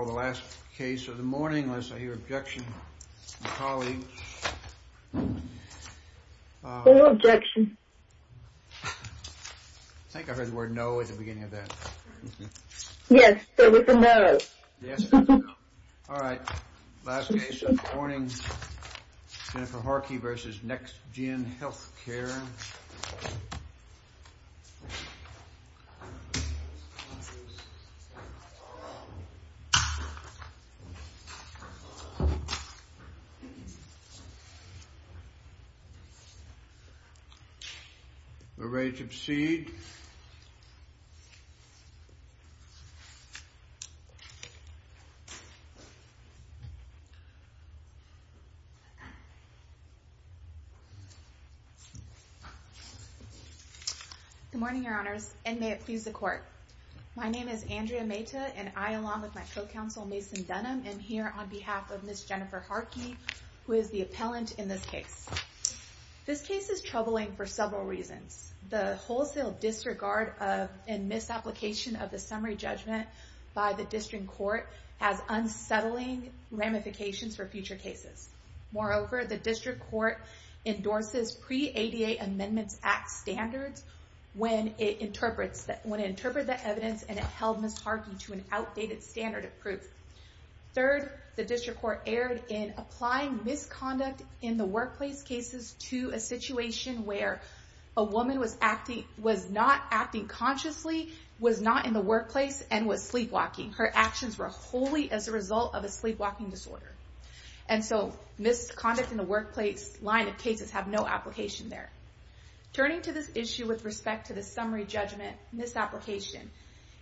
or the last case of the morning, unless I hear objection from colleagues. No objection. I think I heard the word no at the beginning of that. Yes, there was a no. Yes, there was a no. All right, last case of the morning, Jennifer Harkey v. NextGen Healthcare. We're ready to proceed. Good morning, your honors, and may it please the court. My name is Andrea Mehta, and I, along with my co-counsel Mason Dunham, am here on behalf of Ms. Jennifer Harkey, who is the appellant in this case. This case is troubling for several reasons. The wholesale disregard and misapplication of the summary judgment by the district court has unsettling ramifications for future cases. Moreover, the district court endorses pre-ADA Amendments Act standards when it interprets the evidence and it held Ms. Harkey to an outdated standard of proof. Third, the district court erred in applying misconduct in the workplace cases to a situation where a woman was not acting consciously, was not in the workplace, and was sleepwalking. Her actions were wholly as a result of a sleepwalking disorder. And so, misconduct in the workplace line of cases have no application there. Turning to this issue with respect to the summary judgment misapplication,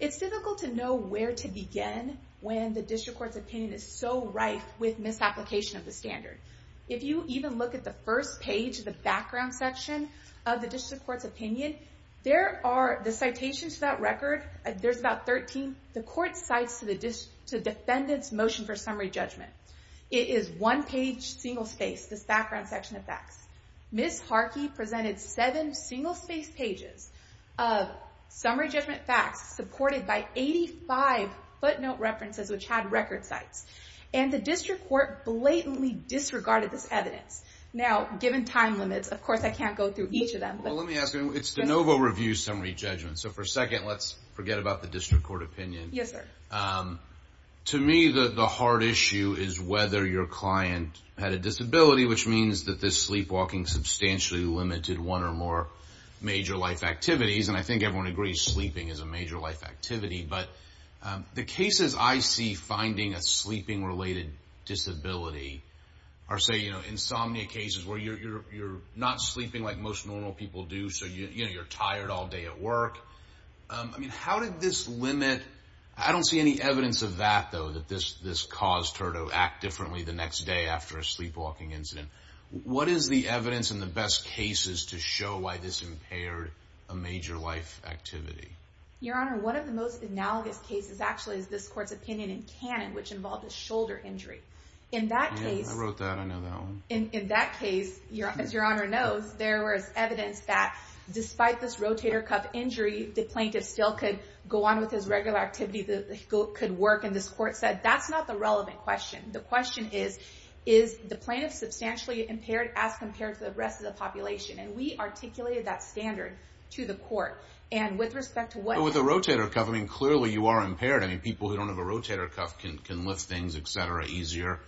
it's difficult to know where to begin when the district court's opinion is so rife with misapplication of the standard. If you even look at the first page, the background section of the district court's opinion, there are the citations to that record, there's about 13. The court cites to the defendant's motion for summary judgment. It is one page, single space, this background section of facts. Ms. Harkey presented seven single space pages of summary judgment facts supported by 85 footnote references which had record sites. And the district court blatantly disregarded this evidence. Now, given time limits, of course I can't go through each of them. Well, let me ask you, it's de novo review summary judgment, so for a second let's forget about the district court opinion. Yes, sir. To me, the hard issue is whether your client had a disability, which means that this sleepwalking substantially limited one or more major life activities. And I think everyone agrees sleeping is a major life activity. But the cases I see finding a sleeping-related disability are, say, insomnia cases where you're not sleeping like most normal people do, so you're tired all day at work. I mean, how did this limit, I don't see any evidence of that, though, that this caused her to act differently the next day after a sleepwalking incident. What is the evidence and the best cases to show why this impaired a major life activity? Your Honor, one of the most analogous cases, actually, is this court's opinion in canon, which involved a shoulder injury. Yeah, I wrote that, I know that one. In that case, as Your Honor knows, there was evidence that despite this rotator cuff injury, the plaintiff still could go on with his regular activity, could work. And this court said that's not the relevant question. The question is, is the plaintiff substantially impaired as compared to the rest of the population? And we articulated that standard to the court. And with respect to what— With a rotator cuff, I mean, clearly you are impaired. I mean, people who don't have a rotator cuff can lift things, et cetera, easier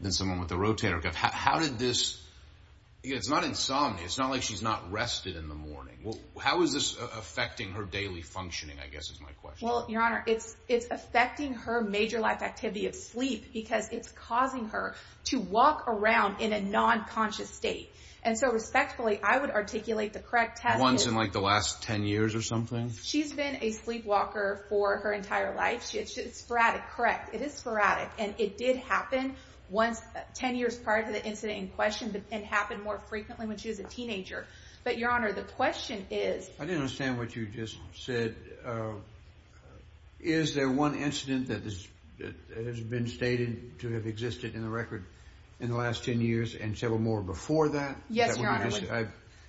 than someone with a rotator cuff. How did this—it's not insomnia, it's not like she's not rested in the morning. How is this affecting her daily functioning, I guess, is my question. Well, Your Honor, it's affecting her major life activity of sleep because it's causing her to walk around in a non-conscious state. And so, respectfully, I would articulate the correct test is— Once in, like, the last 10 years or something? She's been a sleepwalker for her entire life. It's sporadic, correct. It is sporadic. And it did happen 10 years prior to the incident in question and happened more frequently when she was a teenager. But, Your Honor, the question is— I didn't understand what you just said. Is there one incident that has been stated to have existed in the record in the last 10 years and several more before that? Yes, Your Honor. I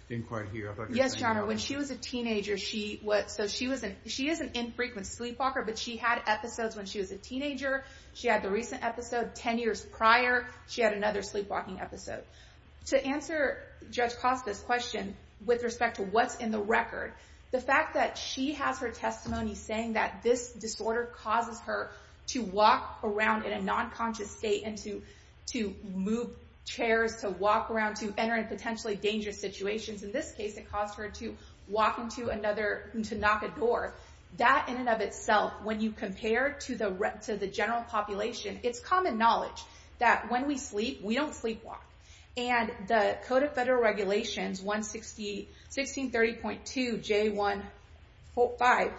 didn't quite hear. Yes, Your Honor. So she is an infrequent sleepwalker, but she had episodes when she was a teenager. She had the recent episode 10 years prior. She had another sleepwalking episode. To answer Judge Costa's question with respect to what's in the record, the fact that she has her testimony saying that this disorder causes her to walk around in a non-conscious state and to move chairs, to walk around, to enter in potentially dangerous situations. In this case, it caused her to walk into another—to knock a door. That in and of itself, when you compare to the general population, it's common knowledge that when we sleep, we don't sleepwalk. And the Code of Federal Regulations, 1630.2J145,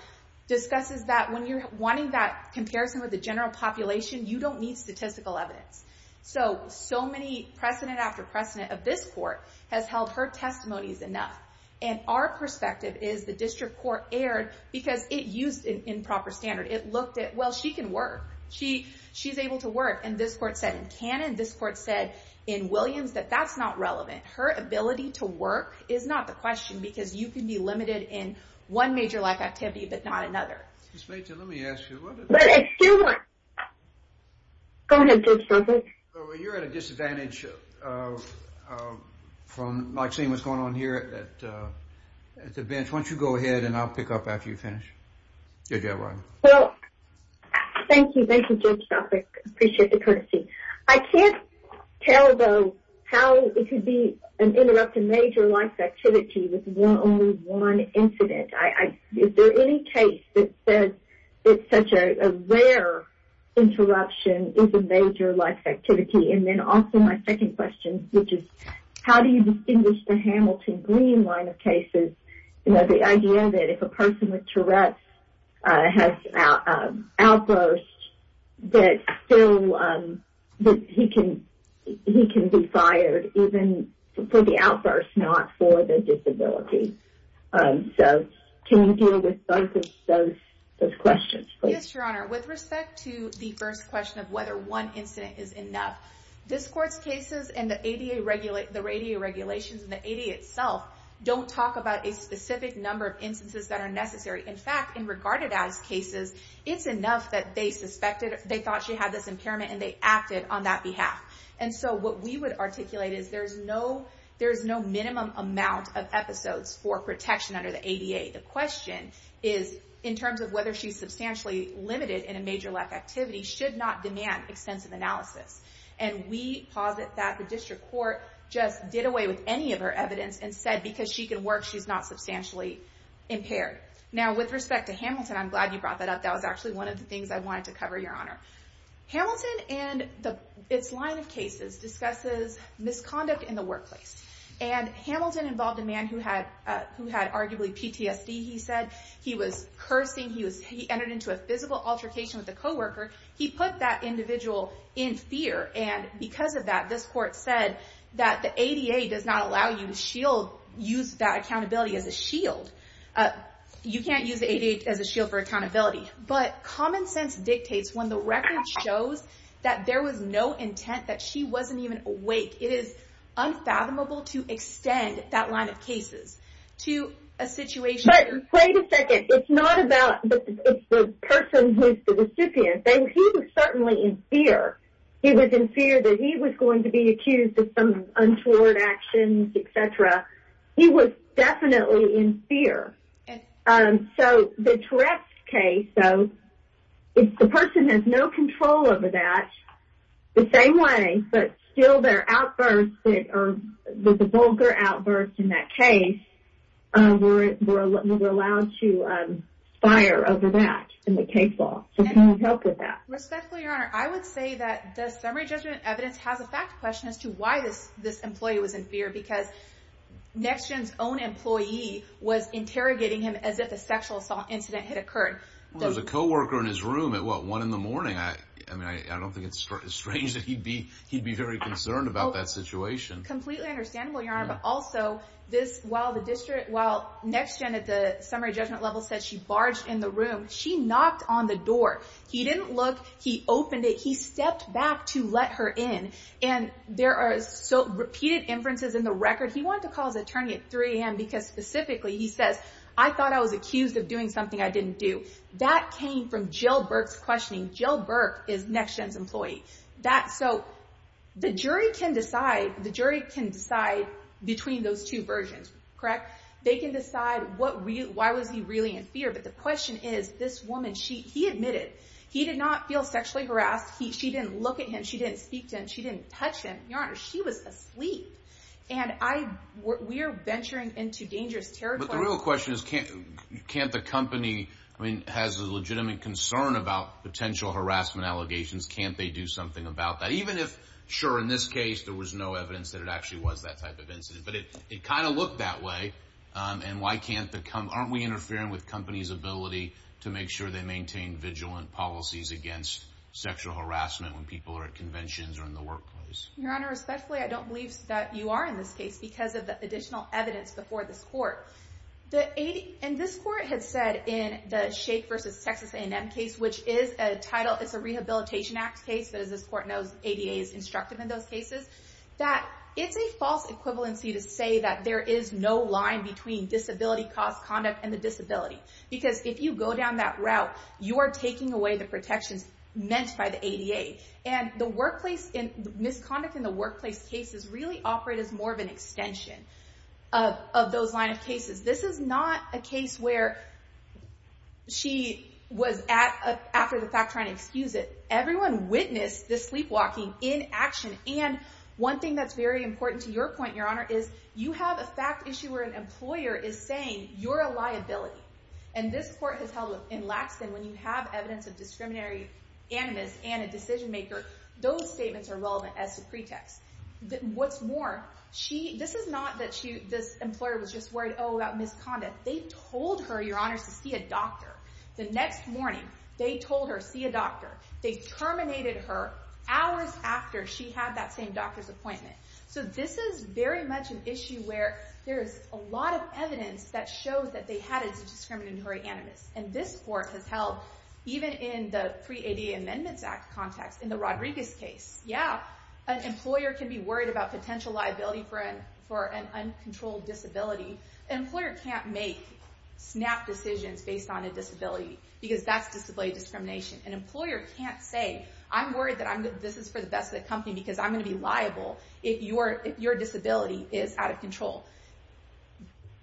discusses that when you're wanting that comparison with the general population, you don't need statistical evidence. So, so many precedent after precedent of this court has held her testimonies enough. And our perspective is the district court erred because it used an improper standard. It looked at, well, she can work. She's able to work. And this court said in canon, this court said in Williams, that that's not relevant. Her ability to work is not the question because you can be limited in one major life activity but not another. Excuse me, let me ask you. But, excuse me. Go ahead, Judge Stoffik. You're at a disadvantage from seeing what's going on here at the bench. Why don't you go ahead and I'll pick up after you finish. Well, thank you. Thank you, Judge Stoffik. I appreciate the courtesy. I can't tell, though, how it could be an interrupted major life activity with only one incident. Is there any case that says it's such a rare interruption is a major life activity? And then also my second question, which is how do you distinguish the Hamilton Green line of cases? You know, the idea that if a person with Tourette's has outburst, that still, that he can be fired even for the outburst, not for the disability. So, can you deal with both of those questions? Yes, Your Honor. With respect to the first question of whether one incident is enough, this court's cases and the ADA regulations and the ADA itself don't talk about a specific number of instances that are necessary. In fact, in regarded as cases, it's enough that they suspected, they thought she had this impairment and they acted on that behalf. And so, what we would articulate is there's no minimum amount of episodes for protection under the ADA. The question is in terms of whether she's substantially limited in a major life activity should not demand extensive analysis. And we posit that the district court just did away with any of her evidence and said because she can work, she's not substantially impaired. Now, with respect to Hamilton, I'm glad you brought that up. That was actually one of the things I wanted to cover, Your Honor. Hamilton and its line of cases discusses misconduct in the workplace. And Hamilton involved a man who had arguably PTSD, he said. He was cursing. He entered into a physical altercation with a coworker. He put that individual in fear. And because of that, this court said that the ADA does not allow you to use that accountability as a shield. You can't use the ADA as a shield for accountability. But common sense dictates when the record shows that there was no intent, that she wasn't even awake. It is unfathomable to extend that line of cases to a situation. Wait a second. It's not about the person who's the recipient. He was certainly in fear. He was in fear that he was going to be accused of some untoward actions, et cetera. He was definitely in fear. So the Tourette's case, though, if the person has no control over that, the same way, but still there are outbursts or there's a vulgar outburst in that case, we're allowed to fire over that in the case law. So can you help with that? Respectfully, Your Honor, I would say that the summary judgment evidence has a fact question as to why this employee was in fear. Because NextGen's own employee was interrogating him as if a sexual assault incident had occurred. There was a co-worker in his room at, what, 1 in the morning? I mean, I don't think it's strange that he'd be very concerned about that situation. Completely understandable, Your Honor. But also, while NextGen at the summary judgment level said she barged in the room, she knocked on the door. He didn't look. He opened it. He stepped back to let her in. And there are repeated inferences in the record. He wanted to call his attorney at 3 a.m. because specifically he says, I thought I was accused of doing something I didn't do. That came from Jill Burke's questioning. Jill Burke is NextGen's employee. So the jury can decide between those two versions, correct? They can decide why was he really in fear. But the question is, this woman, he admitted he did not feel sexually harassed. She didn't look at him. She didn't speak to him. She didn't touch him. Your Honor, she was asleep. And we are venturing into dangerous territory. But the real question is, can't the company, I mean, has a legitimate concern about potential harassment allegations. Can't they do something about that? Even if, sure, in this case there was no evidence that it actually was that type of incident. But it kind of looked that way. And why can't the company, aren't we interfering with companies' ability to make sure they maintain vigilant policies against sexual harassment when people are at conventions or in the workplace? Your Honor, respectfully, I don't believe that you are in this case because of the additional evidence before this court. And this court has said in the Shake v. Texas A&M case, which is a title, it's a Rehabilitation Act case. But as this court knows, ADA is instructive in those cases. That it's a false equivalency to say that there is no line between disability-caused conduct and the disability. Because if you go down that route, you are taking away the protections meant by the ADA. And the misconduct in the workplace cases really operate as more of an extension of those line of cases. This is not a case where she was at, after the fact, trying to excuse it. Everyone witnessed the sleepwalking in action. And one thing that's very important to your point, Your Honor, is you have a fact issue where an employer is saying you're a liability. And this court has held in Laxton, when you have evidence of discriminatory animus and a decision maker, those statements are relevant as a pretext. What's more, this is not that this employer was just worried, oh, about misconduct. They told her, Your Honor, to see a doctor. The next morning, they told her, see a doctor. They terminated her hours after she had that same doctor's appointment. So this is very much an issue where there is a lot of evidence that shows that they had a discriminatory animus. And this court has held, even in the pre-ADA Amendments Act context, in the Rodriguez case, yeah, an employer can be worried about potential liability for an uncontrolled disability. An employer can't make snap decisions based on a disability because that's disability discrimination. An employer can't say, I'm worried that this is for the best of the company because I'm going to be liable if your disability is out of control.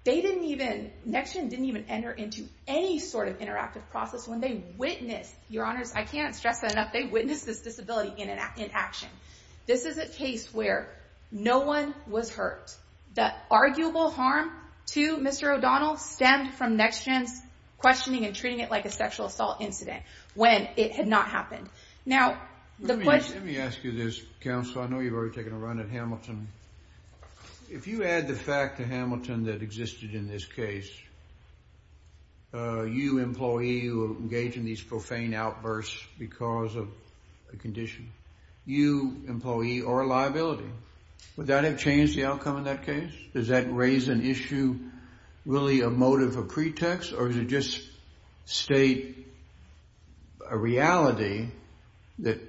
NextGen didn't even enter into any sort of interactive process when they witnessed, Your Honors, I can't stress that enough, they witnessed this disability in action. This is a case where no one was hurt. The arguable harm to Mr. O'Donnell stemmed from NextGen's questioning and treating it like a sexual assault incident. When it had not happened. Now, the question... Let me ask you this, counsel. I know you've already taken a run at Hamilton. If you add the fact to Hamilton that existed in this case, you, employee, who engaged in these profane outbursts because of a condition. You, employee, are a liability. Would that have changed the outcome of that case? Does that raise an issue, really a motive, a pretext? Or does it just state a reality that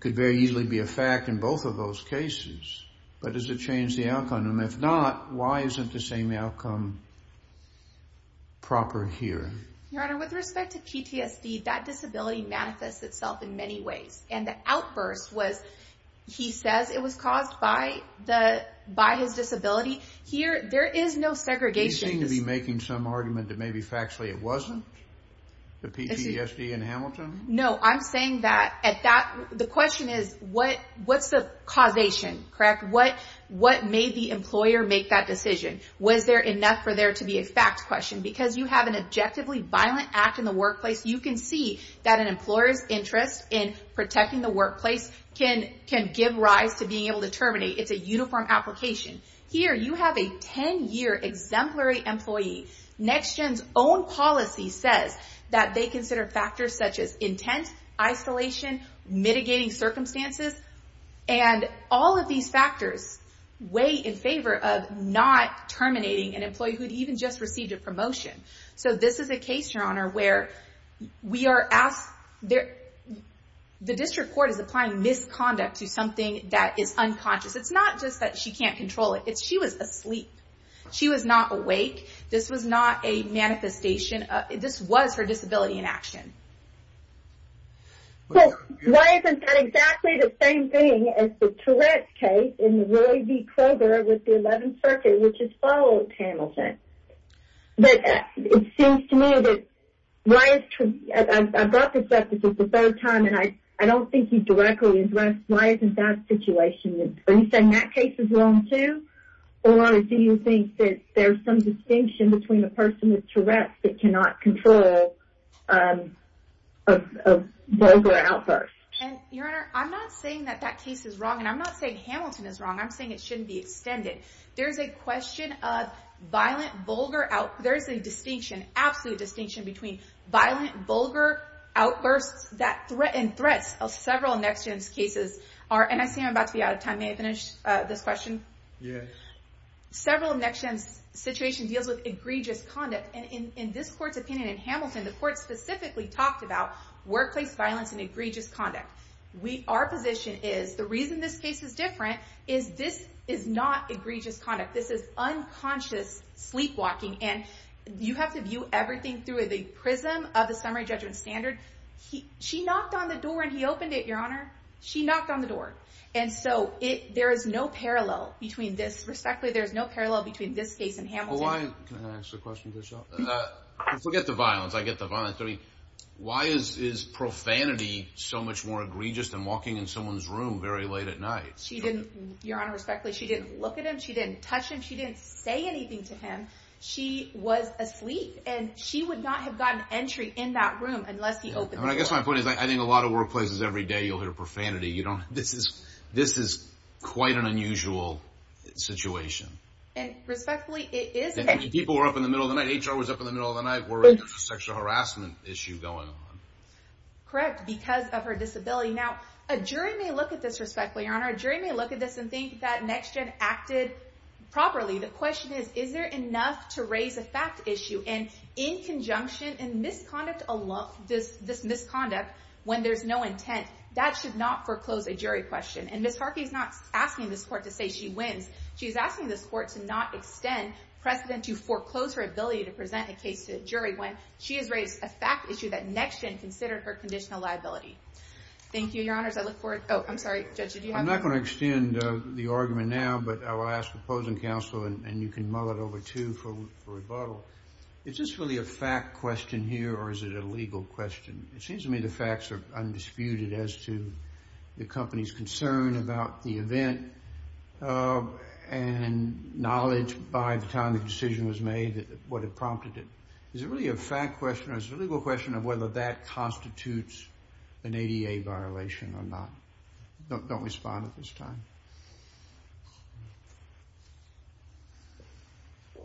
could very easily be a fact in both of those cases? But does it change the outcome? And if not, why isn't the same outcome proper here? Your Honor, with respect to PTSD, that disability manifests itself in many ways. And the outburst was, he says it was caused by his disability. Here, there is no segregation. You seem to be making some argument that maybe factually it wasn't? The PTSD in Hamilton? No, I'm saying that at that... The question is, what's the causation, correct? What made the employer make that decision? Was there enough for there to be a fact question? Because you have an objectively violent act in the workplace. You can see that an employer's interest in protecting the workplace can give rise to being able to terminate. It's a uniform application. Here, you have a 10-year exemplary employee. NextGen's own policy says that they consider factors such as intent, isolation, mitigating circumstances. And all of these factors weigh in favor of not terminating an employee who had even just received a promotion. So this is a case, Your Honor, where we are asked... The district court is applying misconduct to something that is unconscious. It's not just that she can't control it. She was asleep. She was not awake. This was not a manifestation. This was her disability in action. So why isn't that exactly the same thing as the Tourette's case in the Roy v. Kroger with the 11th Circuit, which is followed Hamilton? But it seems to me that why is... I brought this up because it's about time, and I don't think you directly addressed why isn't that situation... Are you saying that case is wrong, too? Or do you think that there's some distinction between a person with Tourette's that cannot control a vulgar outburst? And, Your Honor, I'm not saying that that case is wrong, and I'm not saying Hamilton is wrong. I'm saying it shouldn't be extended. There's a question of violent, vulgar... There's a distinction, absolute distinction, between violent, vulgar outbursts and threats of several NextGen's cases. And I see I'm about to be out of time. May I finish this question? Yes. Several of NextGen's situations deal with egregious conduct. And in this court's opinion in Hamilton, the court specifically talked about workplace violence and egregious conduct. Our position is the reason this case is different is this is not egregious conduct. This is unconscious sleepwalking. And you have to view everything through the prism of the summary judgment standard. She knocked on the door, and he opened it, Your Honor. She knocked on the door. And so there is no parallel between this. Respectfully, there is no parallel between this case and Hamilton. Can I ask a question, Michelle? Forget the violence. I get the violence. Why is profanity so much more egregious than walking in someone's room very late at night? Your Honor, respectfully, she didn't look at him. She didn't touch him. She didn't say anything to him. She was asleep, and she would not have gotten entry in that room unless he opened the door. I guess my point is I think a lot of workplaces every day you'll hear profanity. This is quite an unusual situation. And respectfully, it is. People were up in the middle of the night. HR was up in the middle of the night. We're in a sexual harassment issue going on. Correct, because of her disability. Now, a jury may look at this respectfully, Your Honor. A jury may look at this and think that NextGen acted properly. The question is, is there enough to raise a fact issue? And in conjunction, in misconduct alone, this misconduct when there's no intent, that should not foreclose a jury question. And Ms. Harkey's not asking this court to say she wins. She's asking this court to not extend precedent to foreclose her ability to present a case to a jury when she has raised a fact issue that NextGen considered her conditional liability. Thank you, Your Honors. I look forward—oh, I'm sorry. Judge, did you have— I'm not going to extend the argument now, but I will ask opposing counsel, and you can mull it over, too, for rebuttal. Is this really a fact question here, or is it a legal question? It seems to me the facts are undisputed as to the company's concern about the event and knowledge by the time the decision was made what had prompted it. Is it really a fact question, or is it a legal question of whether that constitutes an ADA violation or not? Don't respond at this time. Thank you.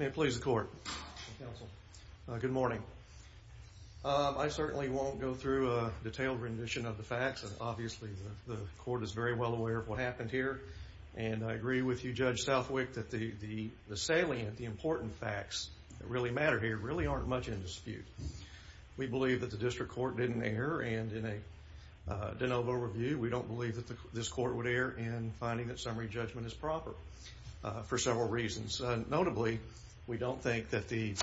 May it please the court. Counsel. Good morning. I certainly won't go through a detailed rendition of the facts. Obviously, the court is very well aware of what happened here, and I agree with you, Judge Southwick, that the salient, the important facts that really matter here really aren't much in dispute. We believe that the district court didn't err, and in a de novo review, we don't believe that this court would err in finding that summary judgment is proper for several reasons. Notably, we don't think that the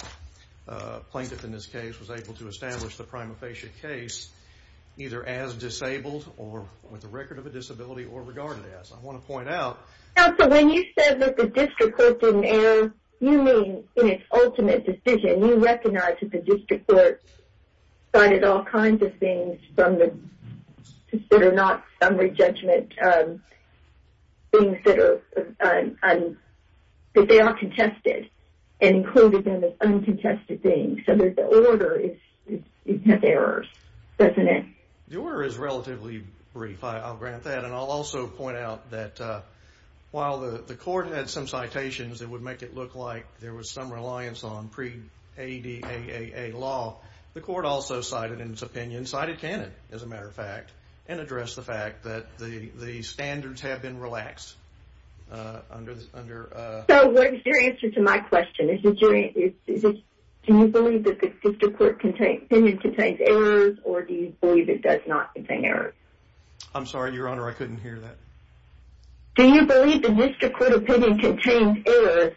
plaintiff in this case was able to establish the prima facie case either as disabled or with a record of a disability or regarded as. I want to point out— Counsel, when you said that the district court didn't err, you mean in its ultimate decision you recognized that the district court cited all kinds of things that are not summary judgment, things that they are contested, and included them as uncontested things. So the order has errors, doesn't it? The order is relatively brief. I'll grant that, and I'll also point out that while the court had some citations that would make it look like there was some reliance on pre-ADAA law, the court also cited in its opinion, cited canon, as a matter of fact, and addressed the fact that the standards have been relaxed under— So what is your answer to my question? Do you believe that the district court opinion contains errors, or do you believe it does not contain errors? I'm sorry, Your Honor, I couldn't hear that. Do you believe the district court opinion contains errors,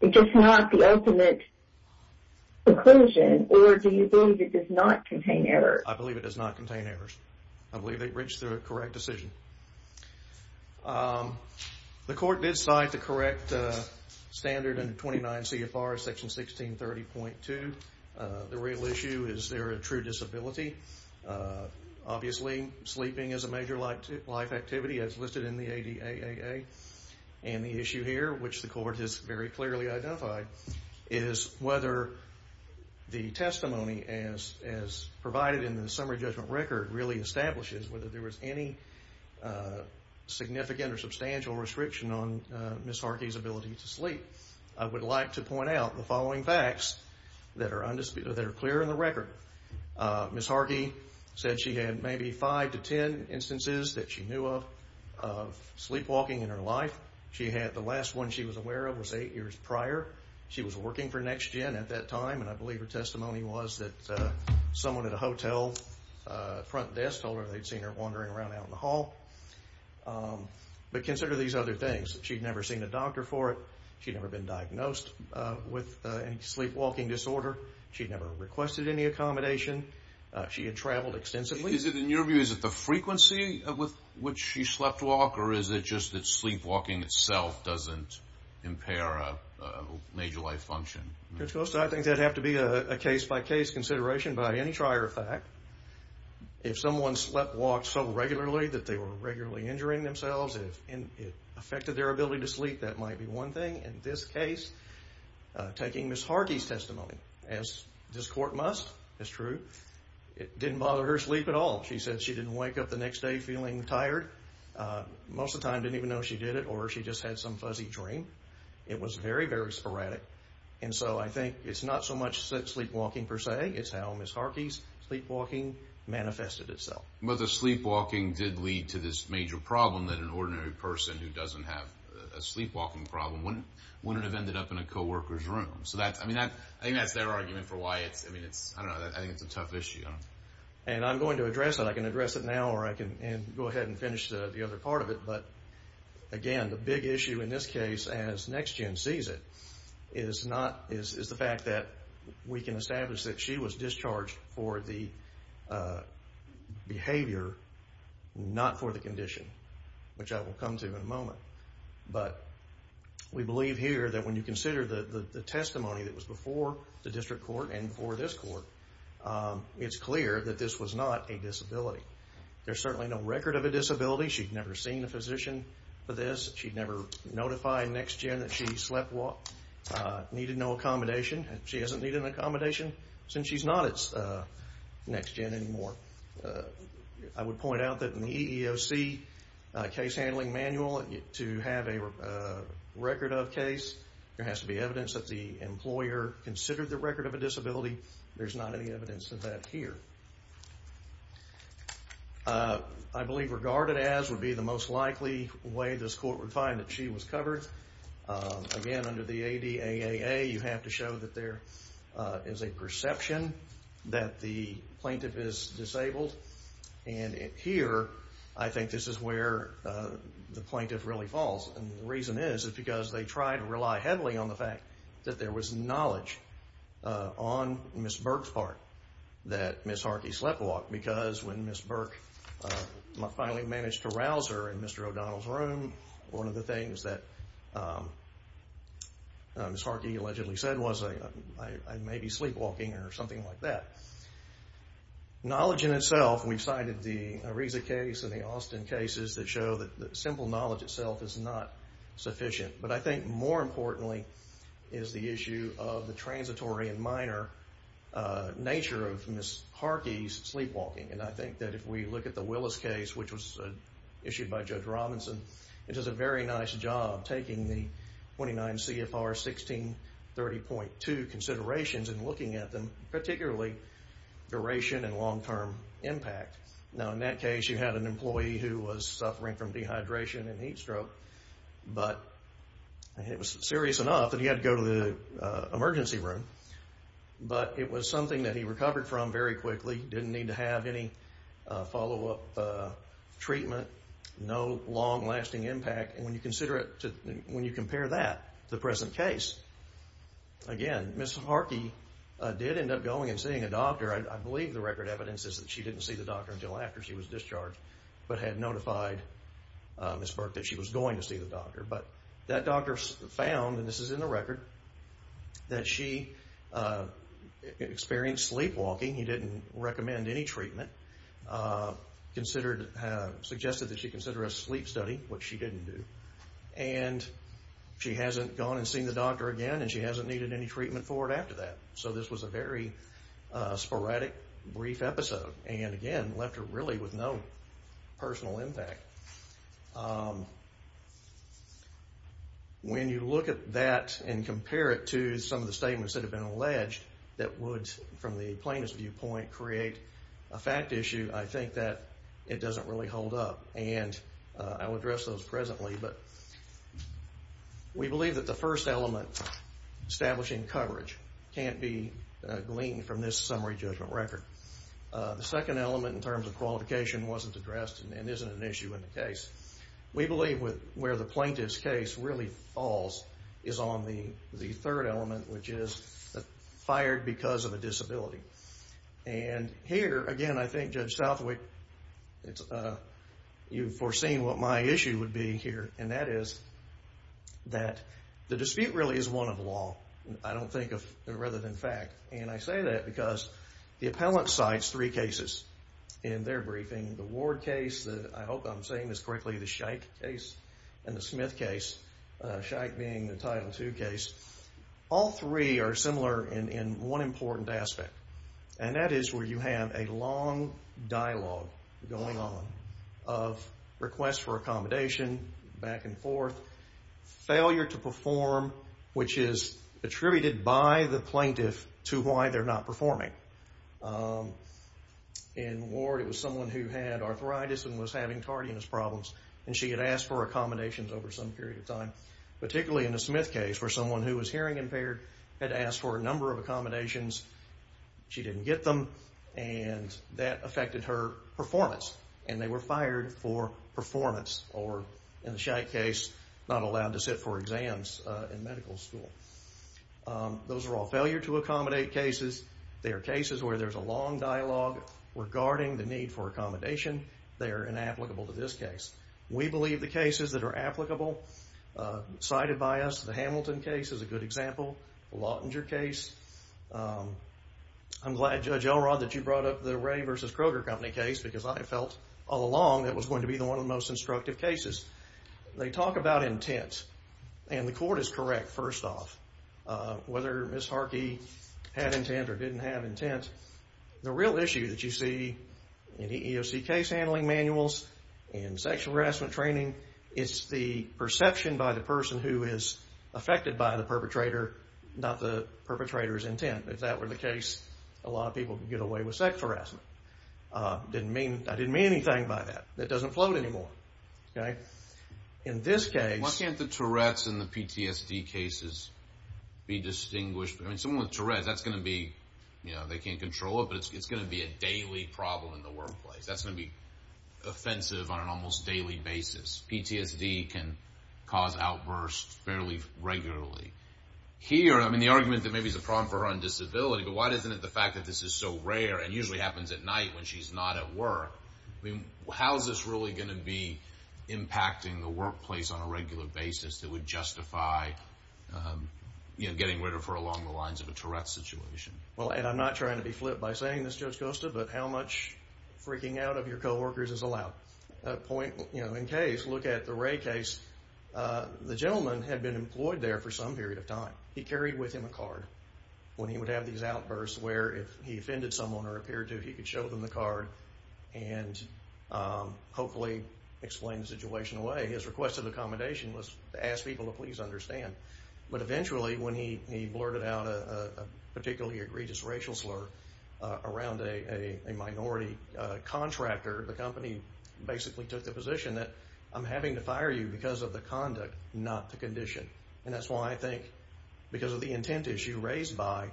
it's just not the ultimate conclusion, or do you believe it does not contain errors? I believe it does not contain errors. I believe they reached the correct decision. The court did cite the correct standard under 29 CFR, section 1630.2. The real issue, is there a true disability? Obviously, sleeping is a major life activity as listed in the ADAAA, and the issue here, which the court has very clearly identified, is whether the testimony as provided in the summary judgment record really establishes whether there was any significant or substantial restriction on Ms. Harkey's ability to sleep. I would like to point out the following facts that are clear in the record. Ms. Harkey said she had maybe five to ten instances that she knew of, of sleepwalking in her life. The last one she was aware of was eight years prior. She was working for NextGen at that time, and I believe her testimony was that someone at a hotel front desk told her they'd seen her wandering around out in the hall. But consider these other things. She'd never seen a doctor for it. She'd never been diagnosed with any sleepwalking disorder. She'd never requested any accommodation. She had traveled extensively. Is it, in your view, is it the frequency with which she sleptwalked, or is it just that sleepwalking itself doesn't impair a major life function? Judge Costa, I think that'd have to be a case-by-case consideration. By any trier of fact, if someone sleptwalked so regularly that they were regularly injuring themselves and it affected their ability to sleep, that might be one thing. In this case, taking Ms. Harkey's testimony, as this court must, is true. It didn't bother her sleep at all. She said she didn't wake up the next day feeling tired. Most of the time didn't even know she did it, or she just had some fuzzy dream. It was very, very sporadic. And so I think it's not so much sleepwalking per se. It's how Ms. Harkey's sleepwalking manifested itself. But the sleepwalking did lead to this major problem that an ordinary person who doesn't have a sleepwalking problem wouldn't have ended up in a co-worker's room. I think that's their argument for why it's a tough issue. And I'm going to address it. I can address it now, or I can go ahead and finish the other part of it. But again, the big issue in this case, as next gen sees it, is the fact that we can establish that she was discharged for the behavior, not for the condition, which I will come to in a moment. But we believe here that when you consider the testimony that was before the district court and before this court, it's clear that this was not a disability. There's certainly no record of a disability. She'd never seen a physician for this. She'd never notified next gen that she sleepwalked, needed no accommodation. She hasn't needed an accommodation since she's not next gen anymore. I would point out that in the EEOC case handling manual, to have a record of case, there has to be evidence that the employer considered the record of a disability. There's not any evidence of that here. I believe regarded as would be the most likely way this court would find that she was covered. Again, under the ADAAA, you have to show that there is a perception that the plaintiff is disabled. Here, I think this is where the plaintiff really falls. The reason is because they tried to rely heavily on the fact that there was knowledge on Ms. Burke's part that Ms. Harkey sleptwalked because when Ms. Burke finally managed to rouse her in Mr. O'Donnell's room, one of the things that Ms. Harkey allegedly said was, I may be sleepwalking or something like that. Knowledge in itself, we've cited the Ariza case and the Austin cases that show that simple knowledge itself is not sufficient. But I think more importantly is the issue of the transitory and minor nature of Ms. Harkey's sleepwalking. And I think that if we look at the Willis case, which was issued by Judge Robinson, it does a very nice job taking the 29 CFR 1630.2 considerations and looking at them, particularly duration and long-term impact. Now, in that case, you had an employee who was suffering from dehydration and heat stroke, but it was serious enough that he had to go to the emergency room. But it was something that he recovered from very quickly, didn't need to have any follow-up treatment, no long-lasting impact. And when you compare that to the present case, again, Ms. Harkey did end up going and seeing a doctor. I believe the record evidence is that she didn't see the doctor until after she was discharged, but had notified Ms. Burke that she was going to see the doctor. But that doctor found, and this is in the record, that she experienced sleepwalking. He didn't recommend any treatment. Suggested that she consider a sleep study, which she didn't do. And she hasn't gone and seen the doctor again, and she hasn't needed any treatment for it after that. So this was a very sporadic, brief episode, and again, left her really with no personal impact. When you look at that and compare it to some of the statements that have been alleged that would, from the plaintiff's viewpoint, create a fact issue, I think that it doesn't really hold up. And I will address those presently, but we believe that the first element, establishing coverage, can't be gleaned from this summary judgment record. The second element in terms of qualification wasn't addressed and isn't an issue in the case. We believe where the plaintiff's case really falls is on the third element, which is fired because of a disability. And here, again, I think, Judge Southwick, you've foreseen what my issue would be here, and that is that the dispute really is one of law. I don't think of it rather than fact. And I say that because the appellant cites three cases in their briefing. The Ward case, I hope I'm saying this correctly, the Scheich case, and the Smith case, Scheich being the Title II case. All three are similar in one important aspect, and that is where you have a long dialogue going on of requests for accommodation, back and forth, failure to perform, which is attributed by the plaintiff to why they're not performing. In Ward, it was someone who had arthritis and was having tardiness problems, and she had asked for accommodations over some period of time, particularly in the Smith case, where someone who was hearing impaired had asked for a number of accommodations. She didn't get them, and that affected her performance, and they were fired for performance, or in the Scheich case, not allowed to sit for exams in medical school. Those are all failure to accommodate cases. They are cases where there's a long dialogue regarding the need for accommodation. They are inapplicable to this case. We believe the cases that are applicable cited by us, the Hamilton case is a good example, the Lautinger case. I'm glad, Judge Elrod, that you brought up the Ray v. Kroger company case because I felt all along it was going to be one of the most instructive cases. They talk about intent, and the court is correct, first off. Whether Ms. Harkey had intent or didn't have intent, the real issue that you see in the EEOC case handling manuals and sexual harassment training is the perception by the person who is affected by the perpetrator, not the perpetrator's intent. If that were the case, a lot of people could get away with sex harassment. I didn't mean anything by that. That doesn't float anymore. In this case... Why can't the Tourette's and the PTSD cases be distinguished? Someone with Tourette's, they can't control it, but it's going to be a daily problem in the workplace. That's going to be offensive on an almost daily basis. PTSD can cause outbursts fairly regularly. Here, the argument that maybe it's a problem for her on disability, but why isn't it the fact that this is so rare and usually happens at night when she's not at work? How is this really going to be impacting the workplace on a regular basis that would justify getting rid of her along the lines of a Tourette's situation? I'm not trying to be flipped by saying this, Judge Costa, but how much freaking out of your coworkers is allowed? In case, look at the Ray case. The gentleman had been employed there for some period of time. He carried with him a card when he would have these outbursts where if he offended someone or appeared to, he could show them the card and hopefully explain the situation away. His request of accommodation was to ask people to please understand. But eventually, when he blurted out a particularly egregious racial slur around a minority contractor, the company basically took the position that I'm having to fire you because of the conduct, not the condition. And that's why I think because of the intent issue raised by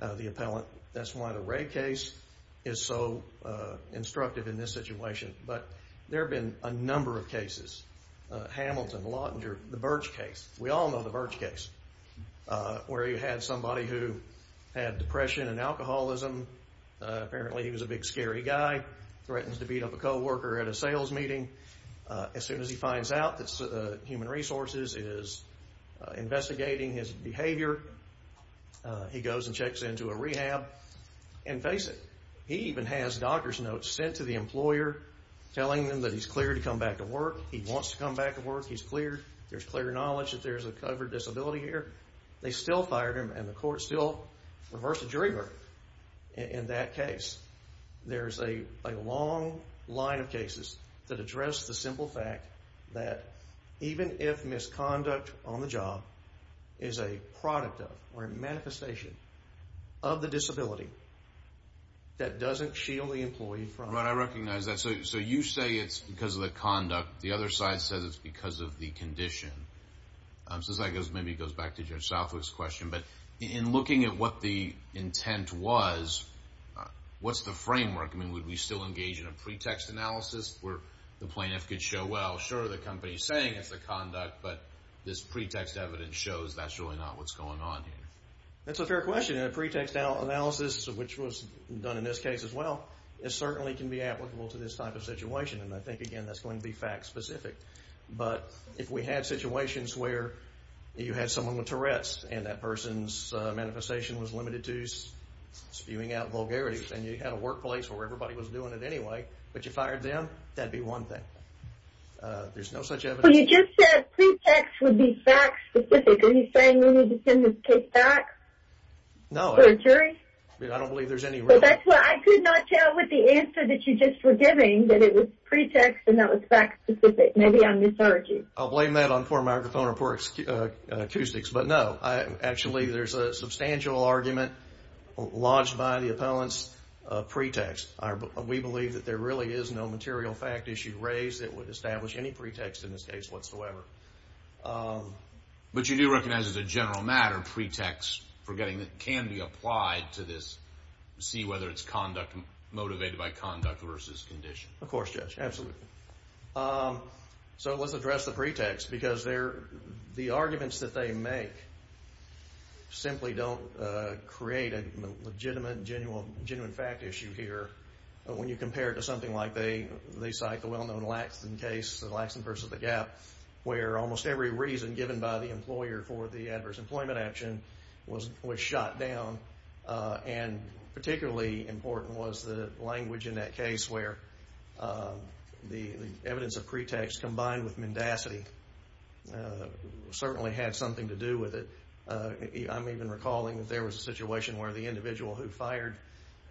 the appellant, that's why the Ray case is so instructive in this situation. But there have been a number of cases. Hamilton, Lautinger, the Birch case. We all know the Birch case, where you had somebody who had depression and alcoholism. Apparently, he was a big scary guy, threatens to beat up a coworker at a sales meeting. As soon as he finds out that Human Resources is investigating his behavior, he goes and checks into a rehab and face it. He even has doctor's notes sent to the employer telling them that he's cleared to come back to work. He wants to come back to work. He's cleared. There's clear knowledge that there's a covered disability here. They still fired him, and the court still reversed the jury verdict in that case. There's a long line of cases that address the simple fact that even if misconduct on the job is a product of or a manifestation of the disability, that doesn't shield the employee from it. Right, I recognize that. So you say it's because of the conduct. The other side says it's because of the condition. Since that goes, maybe it goes back to Judge Southwick's question. But in looking at what the intent was, what's the framework? I mean, would we still engage in a pretext analysis where the plaintiff could show, well, sure, the company's saying it's the conduct, but this pretext evidence shows that's really not what's going on here. That's a fair question. And a pretext analysis, which was done in this case as well, certainly can be applicable to this type of situation. And I think, again, that's going to be fact-specific. But if we had situations where you had someone with Tourette's and that person's manifestation was limited to spewing out vulgarities and you had a workplace where everybody was doing it anyway, but you fired them, that would be one thing. There's no such evidence. But you just said pretext would be fact-specific. Are you saying we need to send this case back to a jury? No, I don't believe there's any real— But that's why I could not tell with the answer that you just were giving that it was pretext and that was fact-specific. Maybe I'm mischaracterizing. I'll blame that on poor microphone or poor acoustics. But, no, actually there's a substantial argument lodged by the appellant's pretext. We believe that there really is no material fact issue raised that would establish any pretext in this case whatsoever. But you do recognize as a general matter pretext can be applied to this, see whether it's motivated by conduct versus condition. Of course, Judge, absolutely. So let's address the pretext because the arguments that they make simply don't create a legitimate, genuine fact issue here. But when you compare it to something like they cite, the well-known Laxton case, the Laxton versus the Gap, where almost every reason given by the employer for the adverse employment action was shot down and particularly important was the language in that case where the evidence of pretext combined with mendacity certainly had something to do with it. I'm even recalling that there was a situation where the individual who fired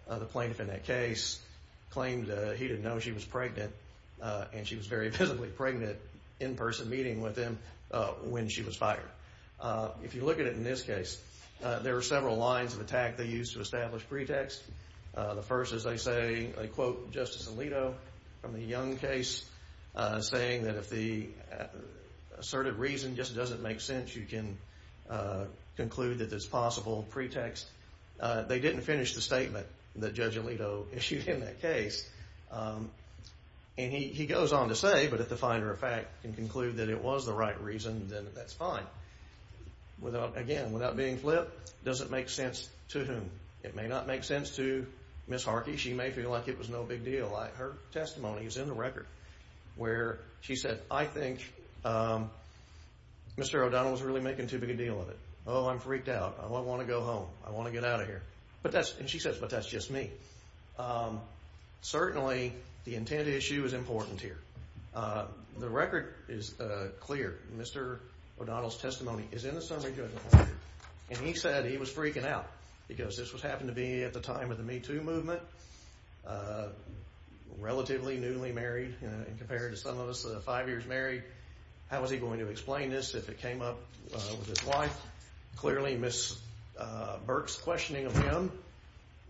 the plaintiff in that case claimed he didn't know she was pregnant and she was very visibly pregnant in person meeting with him when she was fired. If you look at it in this case, there are several lines of attack they use to establish pretext. The first is they say, they quote Justice Alito from the Young case saying that if the assertive reason just doesn't make sense, you can conclude that it's a possible pretext. They didn't finish the statement that Judge Alito issued in that case. And he goes on to say, but if the finder of fact can conclude that it was the right reason, then that's fine. Again, without being flipped, does it make sense to whom? It may not make sense to Ms. Harkey. She may feel like it was no big deal. Her testimony is in the record where she said, I think Mr. O'Donnell was really making too big a deal of it. Oh, I'm freaked out. I want to go home. I want to get out of here. And she says, but that's just me. Certainly the intent issue is important here. The record is clear. Mr. O'Donnell's testimony is in the summary judgment record. And he said he was freaking out because this happened to be at the time of the Me Too movement, relatively newly married compared to some of us five years married. How was he going to explain this if it came up with his wife? Clearly, Ms. Burke's questioning of him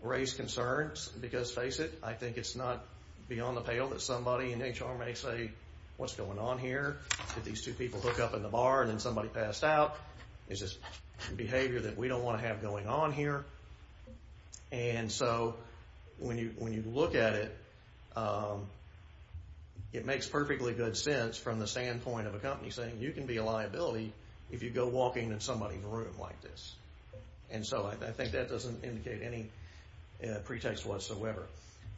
raised concerns because, face it, I think it's not beyond the pale that somebody in HR may say, what's going on here? Did these two people hook up in the bar and then somebody passed out? This is behavior that we don't want to have going on here. And so when you look at it, it makes perfectly good sense from the standpoint of a company saying, you can be a liability if you go walking in somebody's room like this. And so I think that doesn't indicate any pretext whatsoever.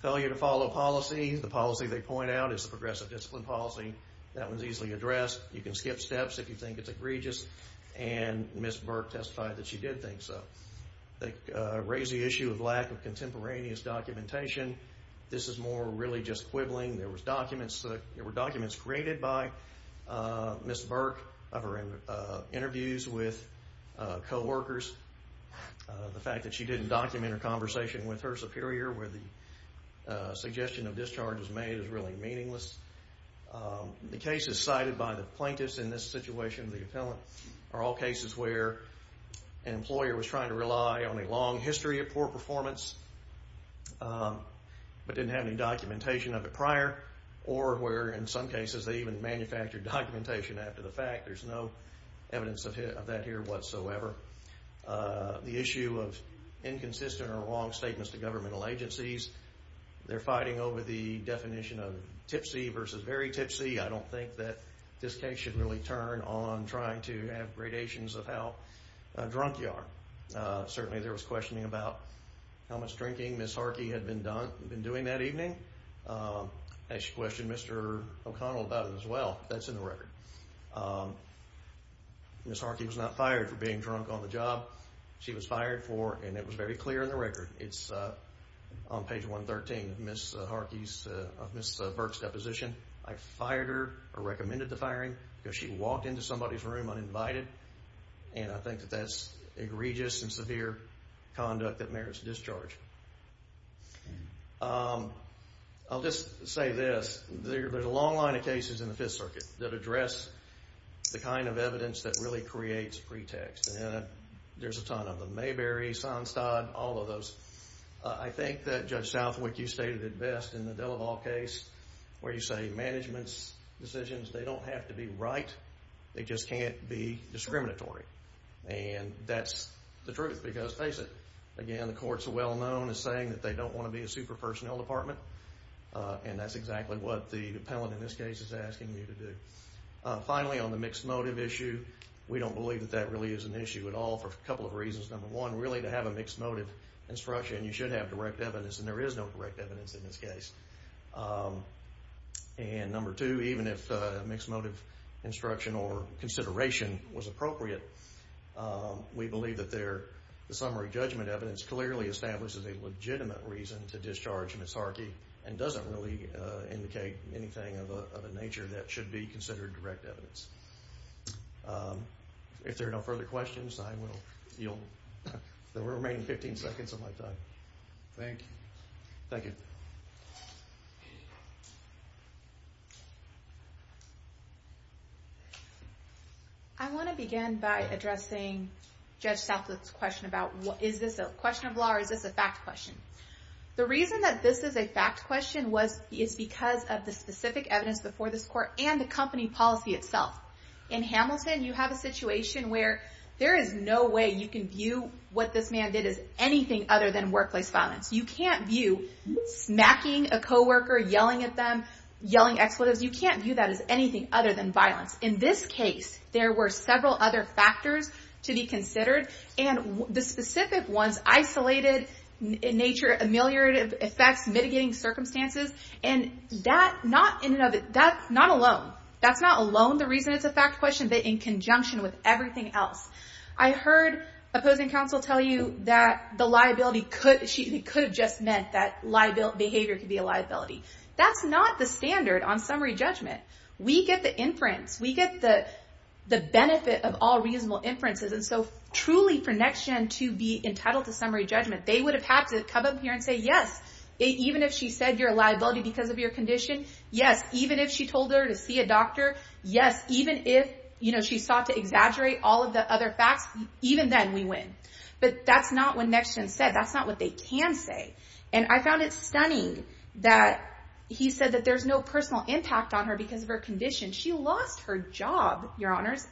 Failure to follow policy. The policy they point out is the progressive discipline policy. That was easily addressed. You can skip steps if you think it's egregious. And Ms. Burke testified that she did think so. They raised the issue of lack of contemporaneous documentation. This is more really just quibbling. There were documents created by Ms. Burke of her interviews with coworkers. The fact that she didn't document her conversation with her superior where the suggestion of discharge was made is really meaningless. The cases cited by the plaintiffs in this situation, the appellant, are all cases where an employer was trying to rely on a long history of poor performance but didn't have any documentation of it prior or where, in some cases, they even manufactured documentation after the fact. There's no evidence of that here whatsoever. The issue of inconsistent or wrong statements to governmental agencies. They're fighting over the definition of tipsy versus very tipsy. I don't think that this case should really turn on trying to have gradations of how drunk you are. Certainly there was questioning about how much drinking Ms. Harkey had been doing that evening. She questioned Mr. O'Connell about it as well. That's in the record. Ms. Harkey was not fired for being drunk on the job she was fired for, and it was very clear in the record. It's on page 113 of Ms. Burke's deposition. I fired her or recommended the firing because she walked into somebody's room uninvited, and I think that that's egregious and severe conduct that merits discharge. I'll just say this. There's a long line of cases in the Fifth Circuit that address the kind of evidence that really creates pretext. There's a ton of them. Mayberry, Sonstad, all of those. I think that, Judge Southwick, you stated it best in the Delaval case, where you say management's decisions, they don't have to be right. They just can't be discriminatory. That's the truth because, face it, again, the courts are well known as saying that they don't want to be a super-personnel department, and that's exactly what the appellant in this case is asking you to do. Finally, on the mixed motive issue, we don't believe that that really is an issue at all for a couple of reasons. Number one, really to have a mixed motive instruction, you should have direct evidence, and there is no direct evidence in this case. Number two, even if mixed motive instruction or consideration was appropriate, we believe that the summary judgment evidence clearly establishes a legitimate reason to discharge misarchy and doesn't really indicate anything of a nature that should be considered direct evidence. If there are no further questions, I will yield the remaining 15 seconds of my time. Thank you. Thank you. I want to begin by addressing Judge Southwick's question about is this a question of law or is this a fact question. The reason that this is a fact question is because of the specific evidence before this court and the company policy itself. In Hamilton, you have a situation where there is no way you can view what this man did as anything other than workplace violence. You can't view smacking a coworker, yelling at them, yelling expletives. You can't view that as anything other than violence. In this case, there were several other factors to be considered, and the specific ones, isolated in nature, ameliorative effects, mitigating circumstances, and that's not alone. That's not alone the reason it's a fact question, but in conjunction with everything else. I heard opposing counsel tell you that the liability could have just meant that behavior could be a liability. That's not the standard on summary judgment. We get the inference. We get the benefit of all reasonable inferences. Truly, for NextGen to be entitled to summary judgment, they would have had to come up here and say, yes, even if she said you're a liability because of your condition, yes, even if she told her to see a doctor, yes, even if she sought to exaggerate all of the other facts, even then we win. But that's not what NextGen said. That's not what they can say. I found it stunning that he said that there's no personal impact on her because of her condition. She lost her job, your honors.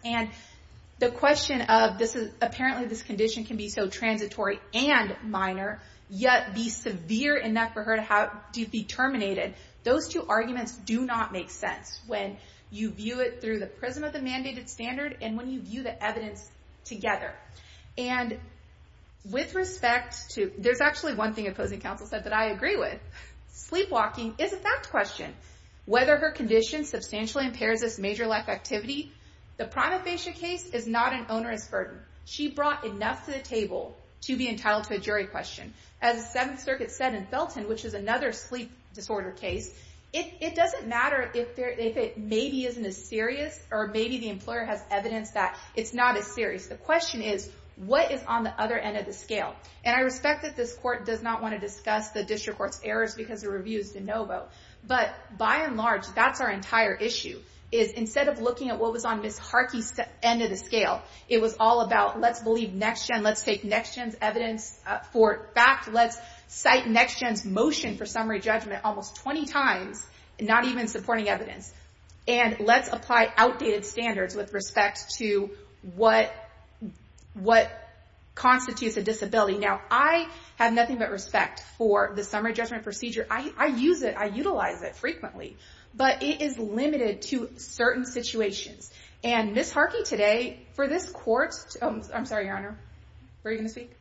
The question of apparently this condition can be so transitory and minor yet be severe enough for her to be terminated, those two arguments do not make sense when you view it through the prism of the mandated standard and when you view the evidence together. There's actually one thing opposing counsel said that I agree with. Sleepwalking is a fact question. Whether her condition substantially impairs this major life activity, the prima facie case is not an onerous burden. She brought enough to the table to be entitled to a jury question. As the Seventh Circuit said in Felton, which is another sleep disorder case, it doesn't matter if it maybe isn't as serious or maybe the employer has evidence that it's not as serious. The question is what is on the other end of the scale? And I respect that this court does not want to discuss the district court's errors because the review is de novo, but by and large that's our entire issue is instead of looking at what was on Ms. Harkey's end of the scale, it was all about let's believe NextGen, let's take NextGen's evidence for fact, let's cite NextGen's motion for summary judgment almost 20 times and not even supporting evidence and let's apply outdated standards with respect to what constitutes a disability. Now I have nothing but respect for the summary judgment procedure. I use it, I utilize it frequently, but it is limited to certain situations. And Ms. Harkey today, for this court, I'm sorry, Your Honor, were you going to speak?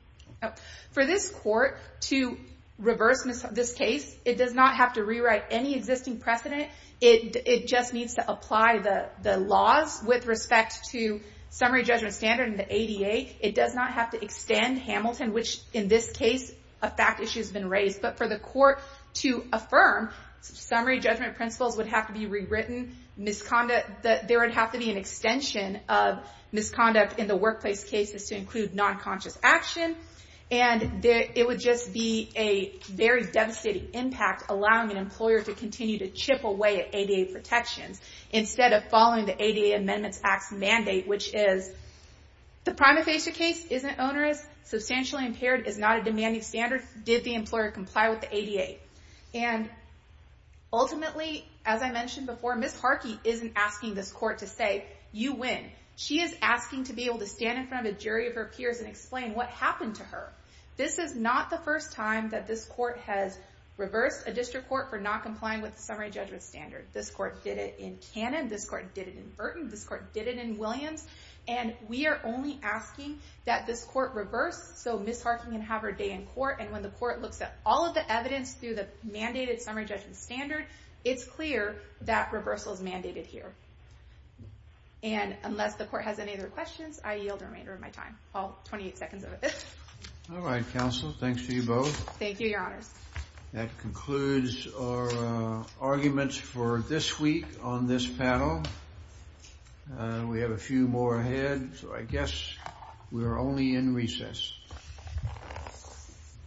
For this court to reverse this case, it does not have to rewrite any existing precedent, it just needs to apply the laws with respect to summary judgment standard in the ADA. It does not have to extend Hamilton, which in this case a fact issue has been raised, but for the court to affirm summary judgment principles would have to be rewritten, there would have to be an extension of misconduct in the workplace cases to include non-conscious action, and it would just be a very devastating impact allowing an employer to continue to chip away at ADA protections instead of following the ADA Amendments Act's mandate, which is the prima facie case isn't onerous, substantially impaired is not a demanding standard, nor did the employer comply with the ADA. And ultimately, as I mentioned before, Ms. Harkey isn't asking this court to say, you win. She is asking to be able to stand in front of a jury of her peers and explain what happened to her. This is not the first time that this court has reversed a district court for not complying with the summary judgment standard. This court did it in Cannon, this court did it in Burton, this court did it in Williams, and we are only asking that this court reverse so Ms. Harkey can have her day in court, and when the court looks at all of the evidence through the mandated summary judgment standard, it's clear that reversal is mandated here. And unless the court has any other questions, I yield the remainder of my time. Well, 28 seconds of it. All right, counsel, thanks to you both. Thank you, your honors. That concludes our arguments for this week on this panel. We have a few more ahead, so I guess we are only in recess.